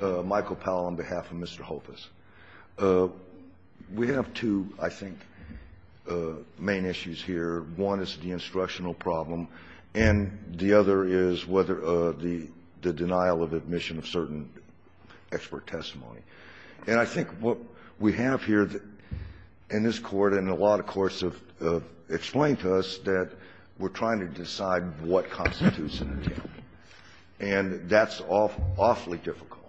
Michael Powell on behalf of Mr. Hofus. We have two, I think, main issues here. One is the instructional problem, and the other is whether the denial of admission of certain expert testimony. And I think what we have here in this Court, and a lot of courts have explained to us, that we're trying to decide what constitutes an attempt. And that's awfully difficult.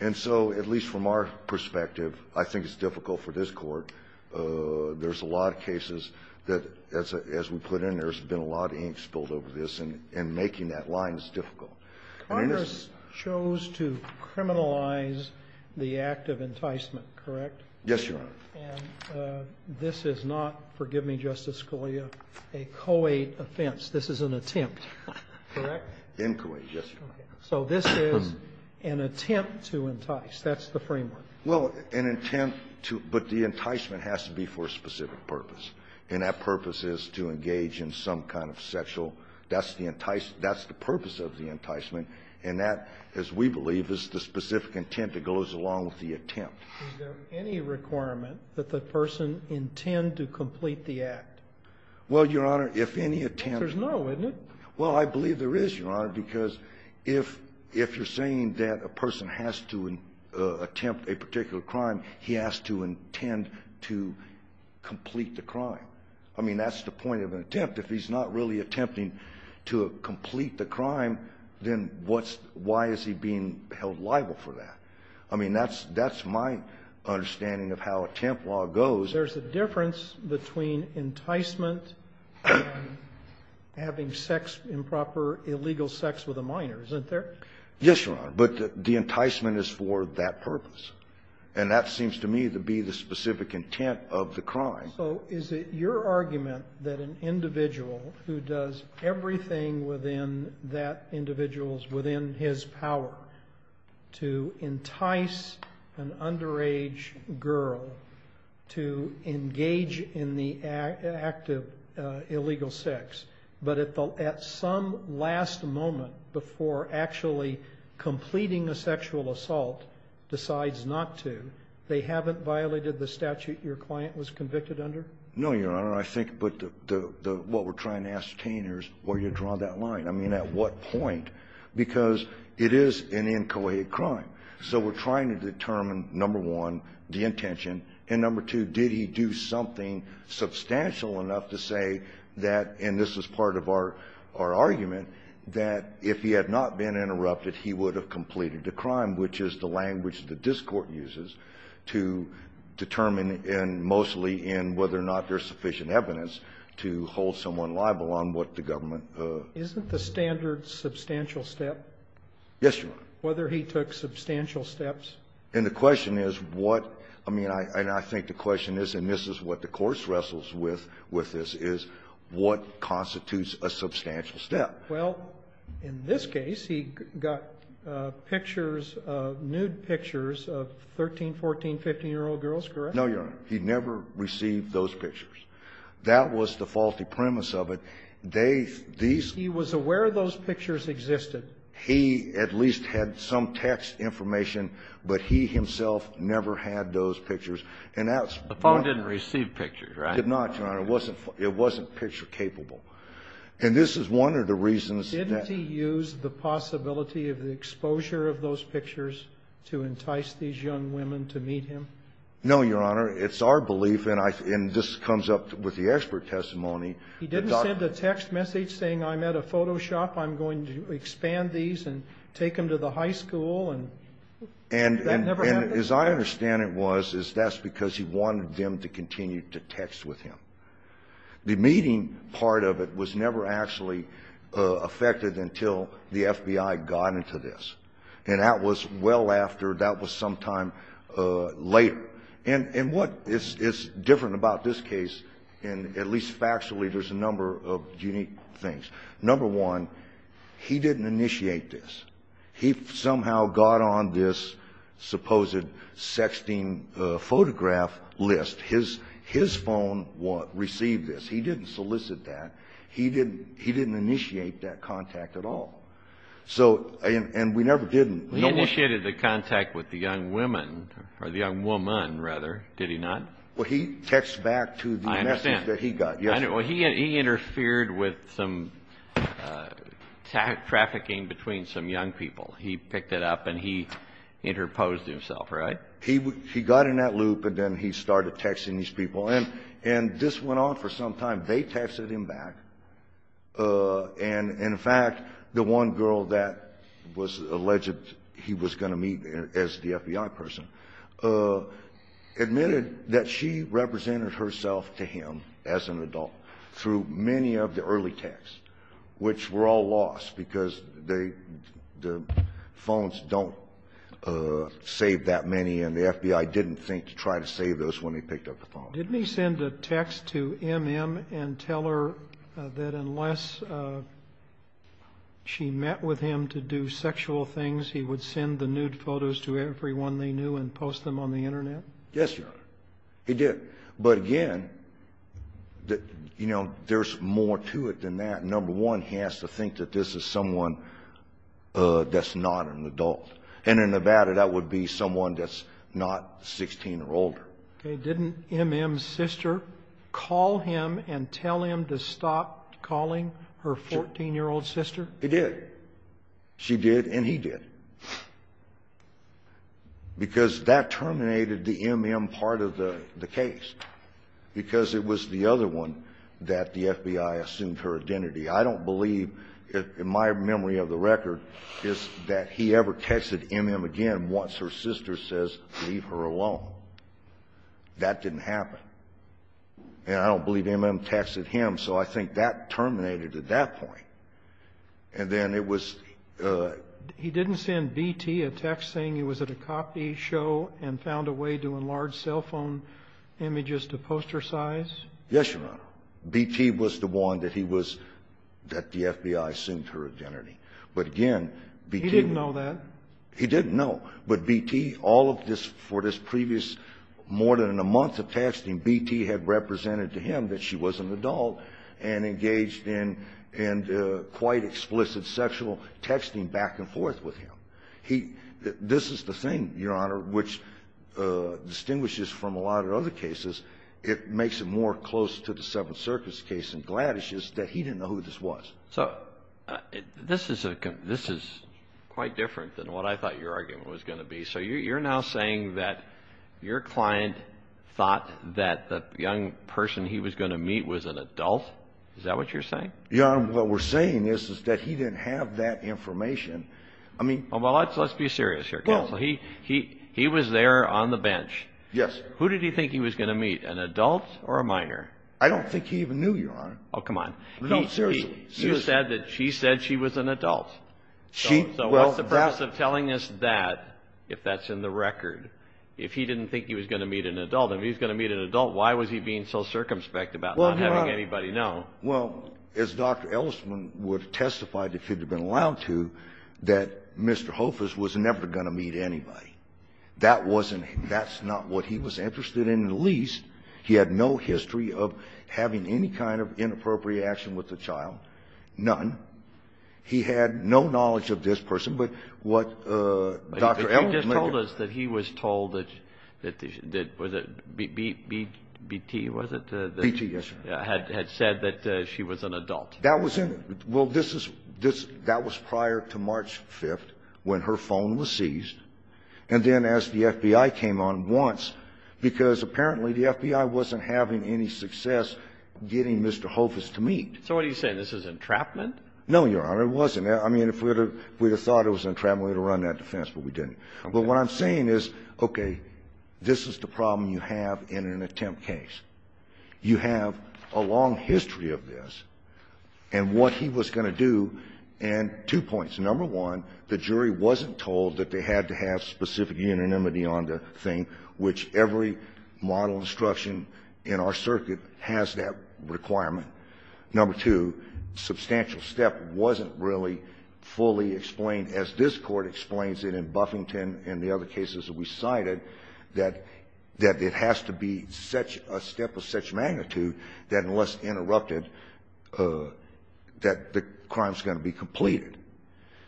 And so, at least from our perspective, I think it's difficult for this Court. There's a lot of cases that, as we put in there, there's been a lot of ink spilled over this, and making that line is difficult. And it is — Congress chose to criminalize the act of enticement, correct? Yes, Your Honor. And this is not, forgive me, Justice Scalia, a co-ed offense. This is an attempt. Correct? Incoherent, yes, Your Honor. So this is an attempt to entice. That's the framework. Well, an intent to — but the enticement has to be for a specific purpose. And that purpose is to engage in some kind of sexual — that's the entice — that's the purpose of the enticement. And that, as we believe, is the specific intent that goes along with the attempt. Is there any requirement that the person intend to complete the act? Well, Your Honor, if any attempt — There's no, isn't it? Well, I believe there is, Your Honor, because if — if you're saying that a person has to attempt a particular crime, he has to intend to complete the crime. I mean, that's the point of an attempt. If he's not really attempting to complete the crime, then what's — why is he being held liable for that? I mean, that's — that's my understanding of how attempt law goes. There's a difference between enticement and having sex, improper, illegal sex with a minor, isn't there? Yes, Your Honor. But the enticement is for that purpose. And that seems to me to be the specific intent of the crime. So is it your argument that an individual who does everything within that individual's within his power to entice an underage girl to engage in the act of illegal sex, but at the — at some last moment before actually completing a sexual assault decides not to, they haven't violated the statute your client was convicted under? No, Your Honor. I think — but the — what we're trying to ascertain here is where you draw that line. I mean, at what point? Because it is an inchoate crime. So we're trying to determine, number one, the intention, and number two, did he do something substantial enough to say that — and this is part of our — our argument — that if he had not been interrupted, he would have completed the crime, which is the language the discord uses to determine, and mostly in whether or not there's sufficient evidence to hold someone liable on what the government — Isn't the standard substantial step? Yes, Your Honor. Whether he took substantial steps? And the question is what — I mean, I — and I think the question is, and this is what the course wrestles with — with this is, what constitutes a substantial step? Well, in this case, he got pictures — nude pictures of 13-, 14-, 15-year-old girls, correct? No, Your Honor. He never received those pictures. That was the faulty premise of it. They — these — He was aware those pictures existed. He at least had some text information, but he himself never had those pictures. And that's — The phone didn't receive pictures, right? It did not, Your Honor. It wasn't — it wasn't picture-capable. And this is one of the reasons that — Didn't he use the possibility of the exposure of those pictures to entice these young women to meet him? No, Your Honor. It's our belief, and I — and this comes up with the expert testimony that — He didn't send a text message saying, I'm at a photo shop. I'm going to expand these and take them to the high school. And that never happened? And as I understand it was, is that's because he wanted them to continue to text with him. The meeting part of it was never actually affected until the FBI got into this. And that was well after — that was sometime later. And what is — is different about this case, and at least factually, there's a number of unique things. Number one, he didn't initiate this. He somehow got on this supposed sexting photograph list. His — his phone received this. He didn't solicit that. He didn't — he didn't initiate that contact at all. So — and we never did — He initiated the contact with the young women — or the young woman, rather. Did he not? Well, he texts back to the message that he got. He interfered with some trafficking between some young people. He picked it up and he interposed himself, right? He got in that loop and then he started texting these people. And this went on for some time. They texted him back. And, in fact, the one girl that was alleged he was going to meet as the FBI person, admitted that she represented herself to him as an adult through many of the early texts, which were all lost because they — the phones don't save that many. And the FBI didn't think to try to save those when he picked up the phone. Didn't he send a text to M.M. and tell her that unless she met with him to do sexual things, he would send the nude photos to everyone they knew and post them on the Internet? Yes, Your Honor. He did. But, again, you know, there's more to it than that. Number one, he has to think that this is someone that's not an adult. And in Nevada, that would be someone that's not 16 or older. Okay. Didn't M.M.'s sister call him and tell him to stop calling her 14-year-old sister? He did. She did, and he did, because that terminated the M.M. part of the case, because it was the other one that the FBI assumed her identity. I don't believe, in my memory of the record, is that he ever texted M.M. again once her sister says, leave her alone. That didn't happen. And I don't believe M.M. texted him. So I think that terminated at that point. And then it was — He didn't send B.T. a text saying he was at a coffee show and found a way to enlarge cell phone images to poster size? Yes, Your Honor. B.T. was the one that he was — that the FBI assumed her identity. But, again, B.T. — He didn't know that. He didn't know. But B.T., all of this — for this previous — more than a month of texting, B.T. had represented to him that she was an adult and engaged in — and quite explicit sexual texting back and forth with him. He — this is the thing, Your Honor, which distinguishes from a lot of other cases. It makes it more close to the Seventh Circuit's case in Gladdish's that he didn't know who this was. So this is a — this is quite different than what I thought your argument was going to be. So you're now saying that your client thought that the young person he was going to meet was an adult? Is that what you're saying? Your Honor, what we're saying is, is that he didn't have that information. I mean — Well, let's be serious here, counsel. He — he was there on the bench. Yes. Who did he think he was going to meet, an adult or a minor? I don't think he even knew, Your Honor. Oh, come on. No, seriously. He said that she said she was an adult. She — well, that — So what's the purpose of telling us that, if that's in the record, if he didn't think he was going to meet an adult? If he was going to meet an adult, why was he being so circumspect about not having anybody know? Well, as Dr. Ellisman would have testified, if he'd have been allowed to, that Mr. Hofers was never going to meet anybody. That wasn't — that's not what he was interested in, at least. He had no history of having any kind of inappropriate action with a child, none. He had no knowledge of this person, but what Dr. Ellisman — But you just told us that he was told that — that — was it B — B — Bt, was it? Bt, yes, Your Honor. Had — had said that she was an adult. That was in — well, this is — this — that was prior to March 5th, when her phone was seized, and then as the FBI came on once, because apparently the FBI wasn't having any success getting Mr. Hofers to meet. So what are you saying? This is entrapment? No, Your Honor, it wasn't. I mean, if we would have — if we would have thought it was entrapment, we would have run that defense, but we didn't. But what I'm saying is, okay, this is the problem you have in an attempt case. You have a long history of this, and what he was going to do — and two points. Number one, the jury wasn't told that they had to have specific unanimity on the thing, which every model instruction in our circuit has that requirement. Number two, substantial step wasn't really fully explained, as this Court explains it in Buffington and the other cases that we cited, that — that it has to be such a step of such magnitude that unless interrupted, that the crime's going to be completed.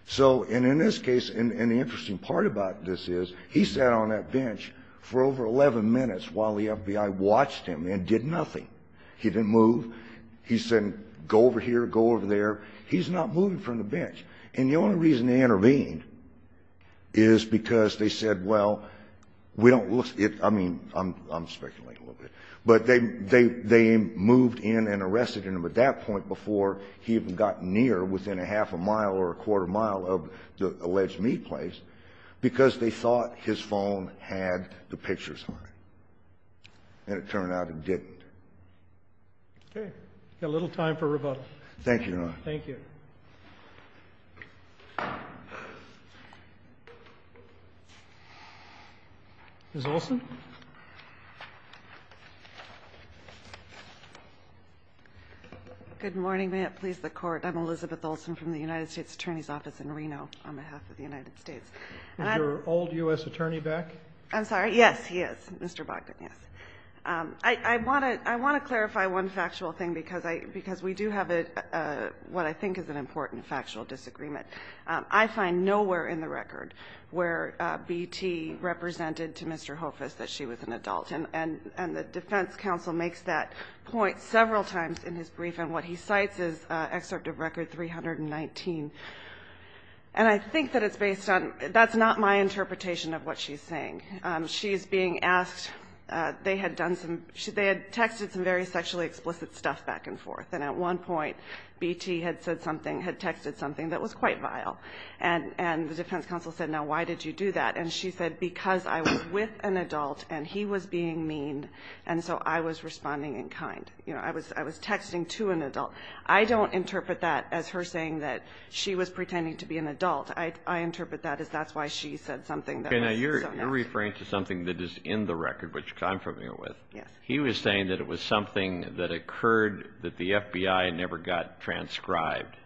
So — and in this case, and the interesting part about this is, he sat on that bench for over 11 minutes while the FBI watched him and did nothing. He didn't move. He said, go over here, go over there. He's not moving from the bench. And the only reason they intervened is because they said, well, we don't — I mean, I'm speculating a little bit, but they moved in and arrested him at that point before he even got near, within a half a mile or a quarter mile of the alleged meat place, because they thought his phone had the pictures on it, and it turned out it didn't. Okay. We've got a little time for rebuttal. Thank you, Your Honor. Thank you. Ms. Olson? Good morning. May it please the Court. I'm Elizabeth Olson from the United States Attorney's Office in Reno on behalf of the United States. Is your old U.S. attorney back? I'm sorry? Yes, he is, Mr. Bogdan, yes. I want to — I want to clarify one factual thing, because I — because we do have a — what I think is an important factual disagreement. I find nowhere in the record where B.T. represented to Mr. Hofuss that she was an adult, and the defense counsel makes that point several times in his brief, and what he cites is Excerpt of Record 319. And I think that it's based on — that's not my interpretation of what she's saying. She's being asked — they had done some — they had texted some very sexually explicit stuff back and forth, and at one point, B.T. had said something — had texted something that was quite vile, and the defense counsel said, now, why did you do that? And she said, because I was with an adult, and he was being mean, and so I was responding in kind. You know, I was texting to an adult. I don't interpret that as her saying that she was pretending to be an adult. I interpret that as that's why she said something that was so nasty. You're referring to something that is in the record, which I'm familiar with. Yes. He was saying that it was something that occurred that the FBI never got transcribed.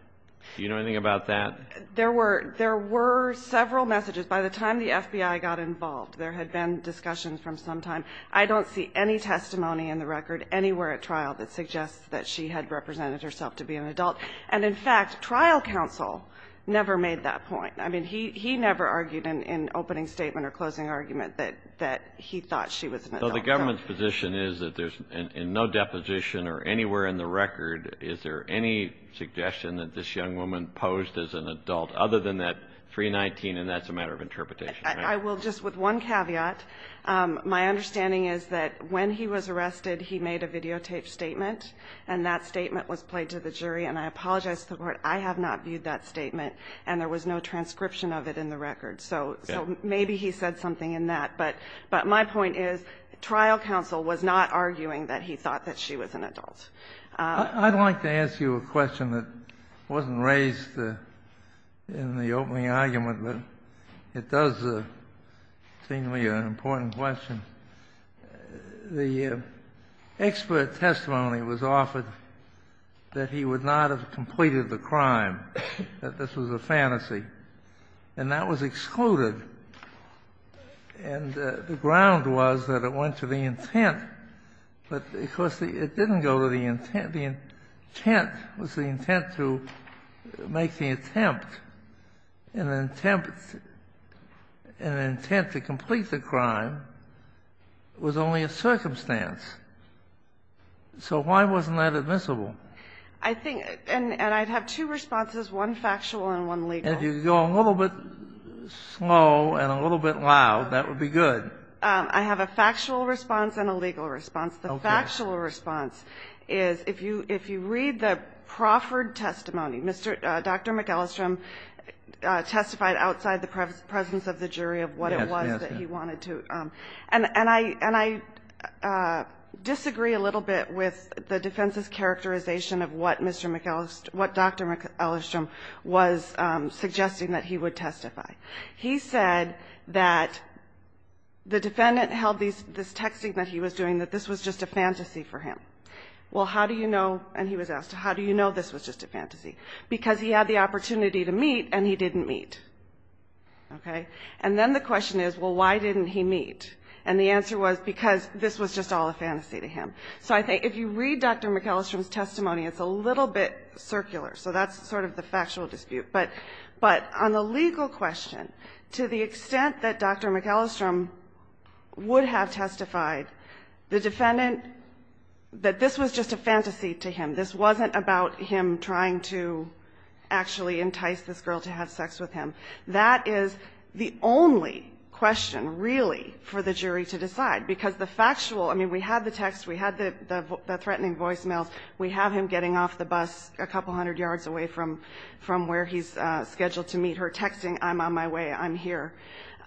Do you know anything about that? There were — there were several messages. By the time the FBI got involved, there had been discussions from some time. I don't see any testimony in the record anywhere at trial that suggests that she had represented herself to be an adult. And, in fact, trial counsel never made that point. I mean, he never argued in opening statement or closing argument that he thought she was an adult. So the government's position is that there's — in no deposition or anywhere in the record is there any suggestion that this young woman posed as an adult other than that 319, and that's a matter of interpretation. I will just — with one caveat. My understanding is that when he was arrested, he made a videotaped statement, and that statement was played to the jury. And I apologize to the Court. I have not viewed that statement, and there was no transcription of it in the record. So maybe he said something in that. But my point is trial counsel was not arguing that he thought that she was an adult. I'd like to ask you a question that wasn't raised in the opening argument, but it does seem to be an important question. The expert testimony was offered that he would not have completed the crime, that this was a fantasy. And that was excluded. And the ground was that it went to the intent. But, of course, it didn't go to the intent. The intent was the intent to make the attempt. And the intent to complete the crime was only a circumstance. So why wasn't that admissible? I think — and I'd have two responses, one factual and one legal. If you could go a little bit slow and a little bit loud, that would be good. I have a factual response and a legal response. The factual response is, if you read the proffered testimony, Dr. McEllistrom testified outside the presence of the jury of what it was that he wanted to. And I disagree a little bit with the defense's characterization of what Mr. McEllist — what Dr. McEllistrom was suggesting that he would testify. He said that the defendant held this texting that he was doing, that this was just a fantasy for him. Well, how do you know — and he was asked, how do you know this was just a fantasy? Because he had the opportunity to meet, and he didn't meet. Okay? And then the question is, well, why didn't he meet? And the answer was, because this was just all a fantasy to him. So I think if you read Dr. McEllistrom's testimony, it's a little bit circular. So that's sort of the factual dispute. But on the legal question, to the extent that Dr. McEllistrom would have testified, the defendant — that this was just a fantasy to him, this wasn't about him trying to actually entice this girl to have sex with him. That is the only question, really, for the jury to decide, because the factual — I mean, we had the text, we had the threatening voicemails, we have him getting off the bus a couple hundred yards away from where he's scheduled to meet her, texting, I'm on my way, I'm here.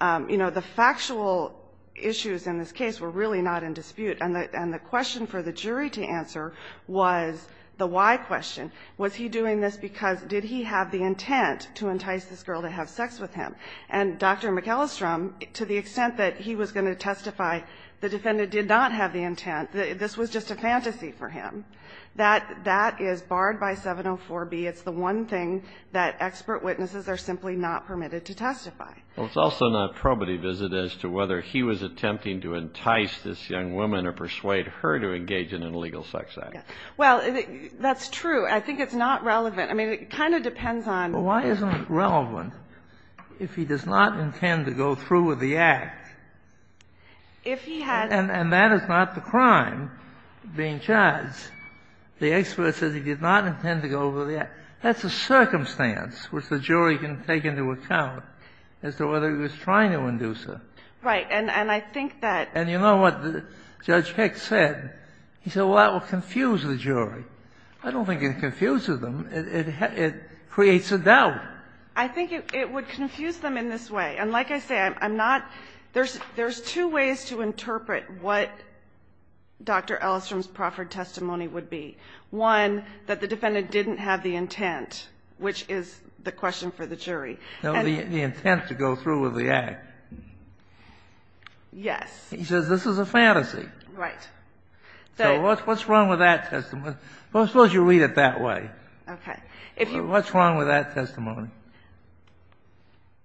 You know, the factual issues in this case were really not in dispute, and the question for the jury to answer was the why question. Was he doing this because — did he have the intent to entice this girl to have sex with him? And Dr. McEllistrom, to the extent that he was going to testify, the defendant did not have the intent. This was just a fantasy for him. That — that is barred by 704B. It's the one thing that expert witnesses are simply not permitted to testify. Well, it's also not probity visit as to whether he was attempting to entice this young woman or persuade her to engage in an illegal sex act. Yes. Well, that's true. I think it's not relevant. I mean, it kind of depends on — Well, why isn't it relevant if he does not intend to go through with the act? If he has — and that is not the crime being charged. The expert says he did not intend to go over the act. That's a circumstance which the jury can take into account as to whether he was trying to induce her. Right. And I think that — And you know what Judge Peck said? He said, well, that will confuse the jury. I don't think it confuses them. It creates a doubt. I think it would confuse them in this way. And like I say, I'm not — there's two ways to interpret what Dr. Ellstrom's Profford testimony would be. One, that the defendant didn't have the intent, which is the question for the jury. No, the intent to go through with the act. Yes. He says this is a fantasy. Right. So what's wrong with that testimony? Okay. What's wrong with that testimony?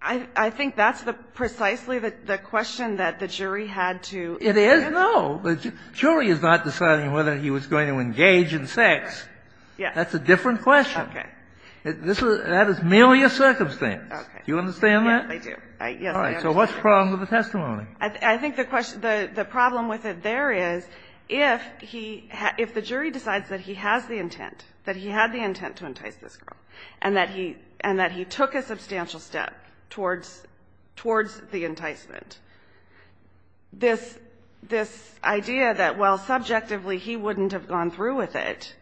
I think that's the — precisely the question that the jury had to — It is? No. The jury is not deciding whether he was going to engage in sex. Yes. That's a different question. Okay. This is — that is merely a circumstance. Okay. Do you understand that? Yes, I do. Yes, I understand. All right. So what's the problem with the testimony? I think the question — the problem with it there is if he — if the jury decides that he has the intent, that he had the intent to entice this girl, and that he — and that he took a substantial step towards — towards the enticement, this — this idea that, well, subjectively, he wouldn't have gone through with it,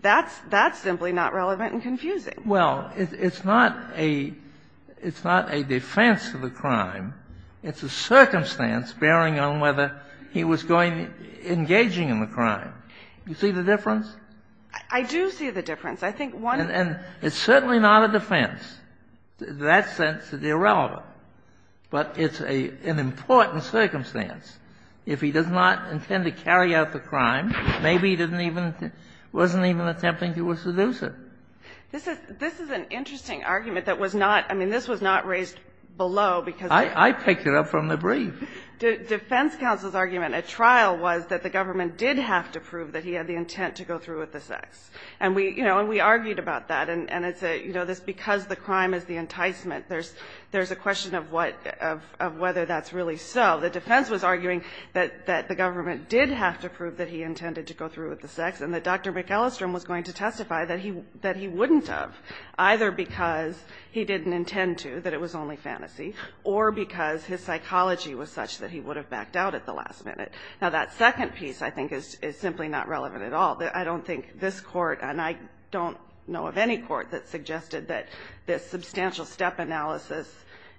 that's — that's simply not relevant and confusing. Well, it's not a — it's not a defense to the crime. It's a circumstance bearing on whether he was going — engaging in the crime. You see the difference? I do see the difference. I think one — And it's certainly not a defense. That sense is irrelevant. But it's a — an important circumstance. If he does not intend to carry out the crime, maybe he didn't even — wasn't even attempting to seduce her. This is — this is an interesting argument that was not — I mean, this was not raised below because — I picked it up from the brief. Defense counsel's argument at trial was that the government did have to prove that he had the intent to go through with the sex. And we — you know, and we argued about that. And it's a — you know, this because the crime is the enticement, there's — there's a question of what — of whether that's really so. The defense was arguing that — that the government did have to prove that he intended to go through with the sex and that Dr. McAllister was going to testify that he — that he wouldn't have, either because he didn't intend to, that it was only fantasy, or because his psychology was such that he would have backed out at the last minute. Now, that second piece, I think, is — is simply not relevant at all. I don't think this Court, and I don't know of any court that suggested that this substantial step analysis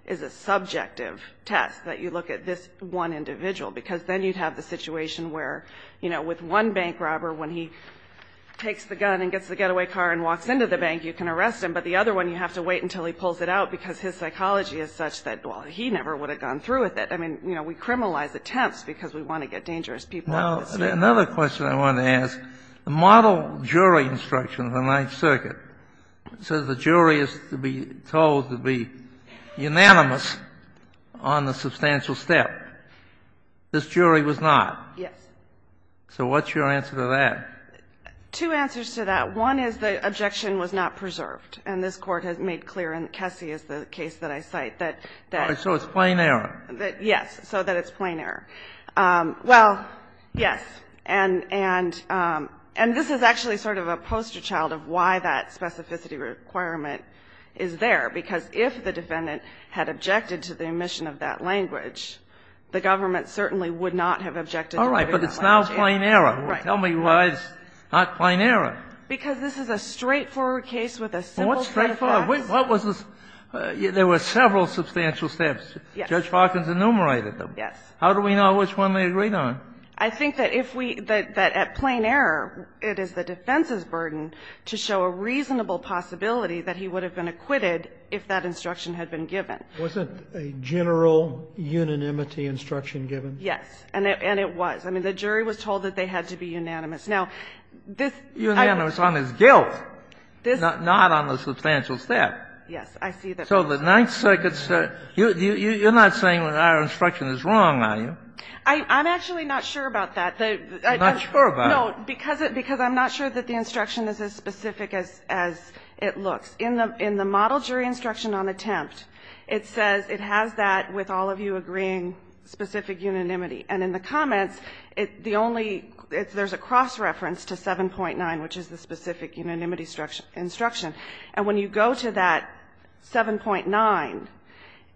is a subjective test, that you look at this one individual, because then you'd have the situation where, you know, with one bank robber, when he takes the gun and gets the getaway car and walks into the bank, you can arrest him. But the other one, you have to wait until he pulls it out because his psychology is such that, well, he never would have gone through with it. I mean, you know, we criminalize attempts because we want to get dangerous people. Another question I wanted to ask. The model jury instruction of the Ninth Circuit says the jury is to be told to be unanimous on the substantial step. This jury was not. Yes. So what's your answer to that? Two answers to that. One is the objection was not preserved. And this Court has made clear, and Kessy is the case that I cite, that — So it's plain error. Yes. So that it's plain error. Well, yes. And this is actually sort of a poster child of why that specificity requirement is there, because if the defendant had objected to the omission of that language, the government certainly would not have objected. All right. But it's now plain error. Right. Tell me why it's not plain error. Because this is a straightforward case with a simple set of facts. What's straightforward? There were several substantial steps. Judge Hawkins enumerated them. Yes. How do we know which one they agreed on? I think that if we — that at plain error, it is the defense's burden to show a reasonable possibility that he would have been acquitted if that instruction had been given. Wasn't a general unanimity instruction given? Yes. And it was. I mean, the jury was told that they had to be unanimous. Now, this — Unanimous on his guilt, not on the substantial step. Yes. I see that. So the Ninth Circuit — you're not saying our instruction is wrong. I'm actually not sure about that. I'm not sure about it. No, because I'm not sure that the instruction is as specific as it looks. In the model jury instruction on attempt, it says it has that, with all of you agreeing, specific unanimity. And in the comments, the only — there's a cross-reference to 7.9, which is the specific unanimity instruction. And when you go to that 7.9,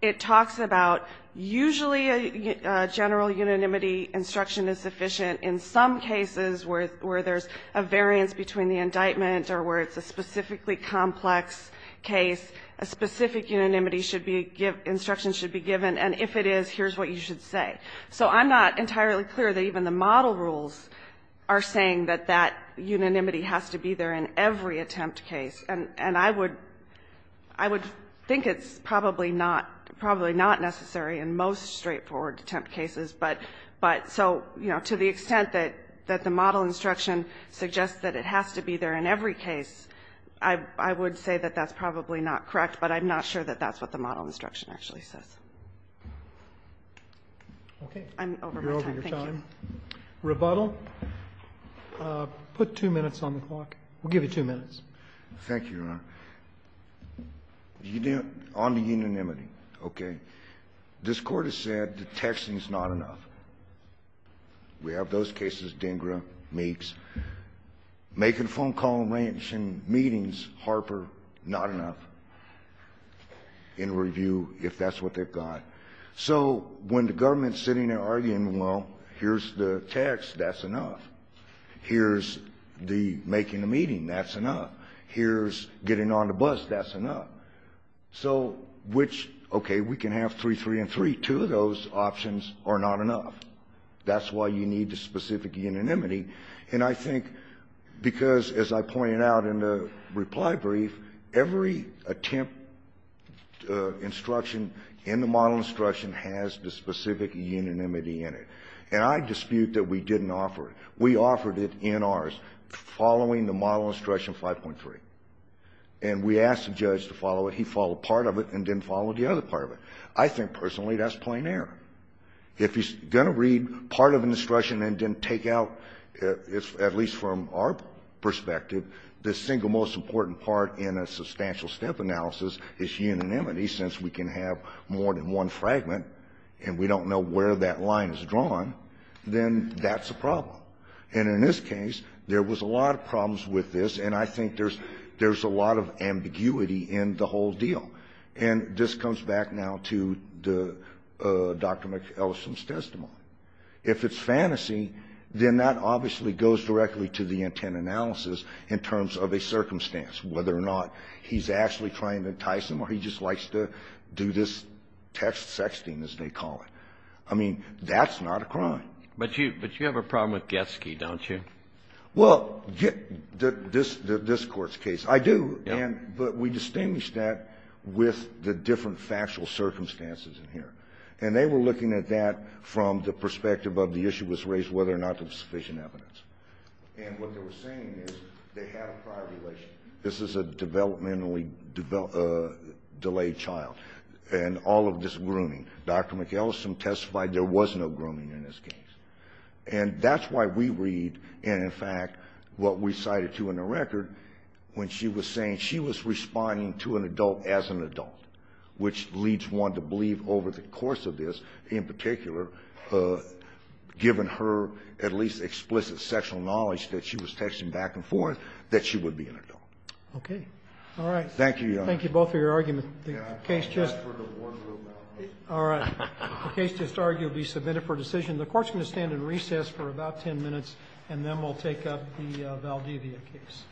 it talks about usually a general unanimity instruction is sufficient in some cases where there's a variance between the indictment or where it's a specifically complex case. A specific unanimity should be — instruction should be given. And if it is, here's what you should say. So I'm not entirely clear that even the model rules are saying that that unanimity has to be there in every attempt case. And I would — I would think it's probably not — probably not necessary in most straightforward attempt cases. But — but — so, you know, to the extent that — that the model instruction suggests that it has to be there in every case, I would say that that's probably not correct. But I'm not sure that that's what the model instruction actually says. I'm over my time. Thank you. Roberts, you're over your time. Rebuttal? Put two minutes on the clock. We'll give you two minutes. Thank you, Your Honor. On the unanimity, okay, this Court has said the texting's not enough. We have those cases, Dengra, Meeks. Making phone call arrangements in meetings, Harper, not enough in review if that's what they've got. So when the government's sitting there arguing, well, here's the text, that's enough. Here's the making the meeting, that's enough. Here's getting on the bus, that's enough. So which — okay, we can have three, three, and three. Two of those options are not enough. That's why you need the specific unanimity. And I think because, as I pointed out in the reply brief, every attempt instruction in the model instruction has the specific unanimity in it. And I dispute that we didn't offer it. We offered it in ours following the model instruction 5.3. And we asked the judge to follow it. He followed part of it and didn't follow the other part of it. I think, personally, that's plain error. If he's going to read part of an instruction and then take out, at least from our perspective, the single most important part in a substantial step analysis is unanimity since we can have more than one fragment and we don't know where that line is drawn, then that's a problem. And in this case, there was a lot of problems with this. And I think there's a lot of ambiguity in the whole deal. And this comes back now to the — Dr. McEllison's testimony. If it's fantasy, then that obviously goes directly to the intent analysis in terms of a circumstance, whether or not he's actually trying to entice him or he just likes to do this text sexting, as they call it. I mean, that's not a crime. But you have a problem with Getsky, don't you? Well, this Court's case. I do. Yeah. But we distinguish that with the different factual circumstances in here. And they were looking at that from the perspective of the issue was raised whether or not there was sufficient evidence. And what they were saying is they had a prior relation. This is a developmentally delayed child. And all of this grooming. Dr. McEllison testified there was no grooming in this case. And that's why we read and, in fact, what we cited, too, in the record, when she was saying she was responding to an adult as an adult, which leads one to believe over the course of this, in particular, given her at least explicit sexual knowledge that she was texting back and forth, that she would be an adult. Okay. All right. Thank you, Your Honor. Thank you both for your argument. The case just argued to be submitted for decision. The Court's going to stand in recess for about 10 minutes, and then we'll take up the Valdivia case.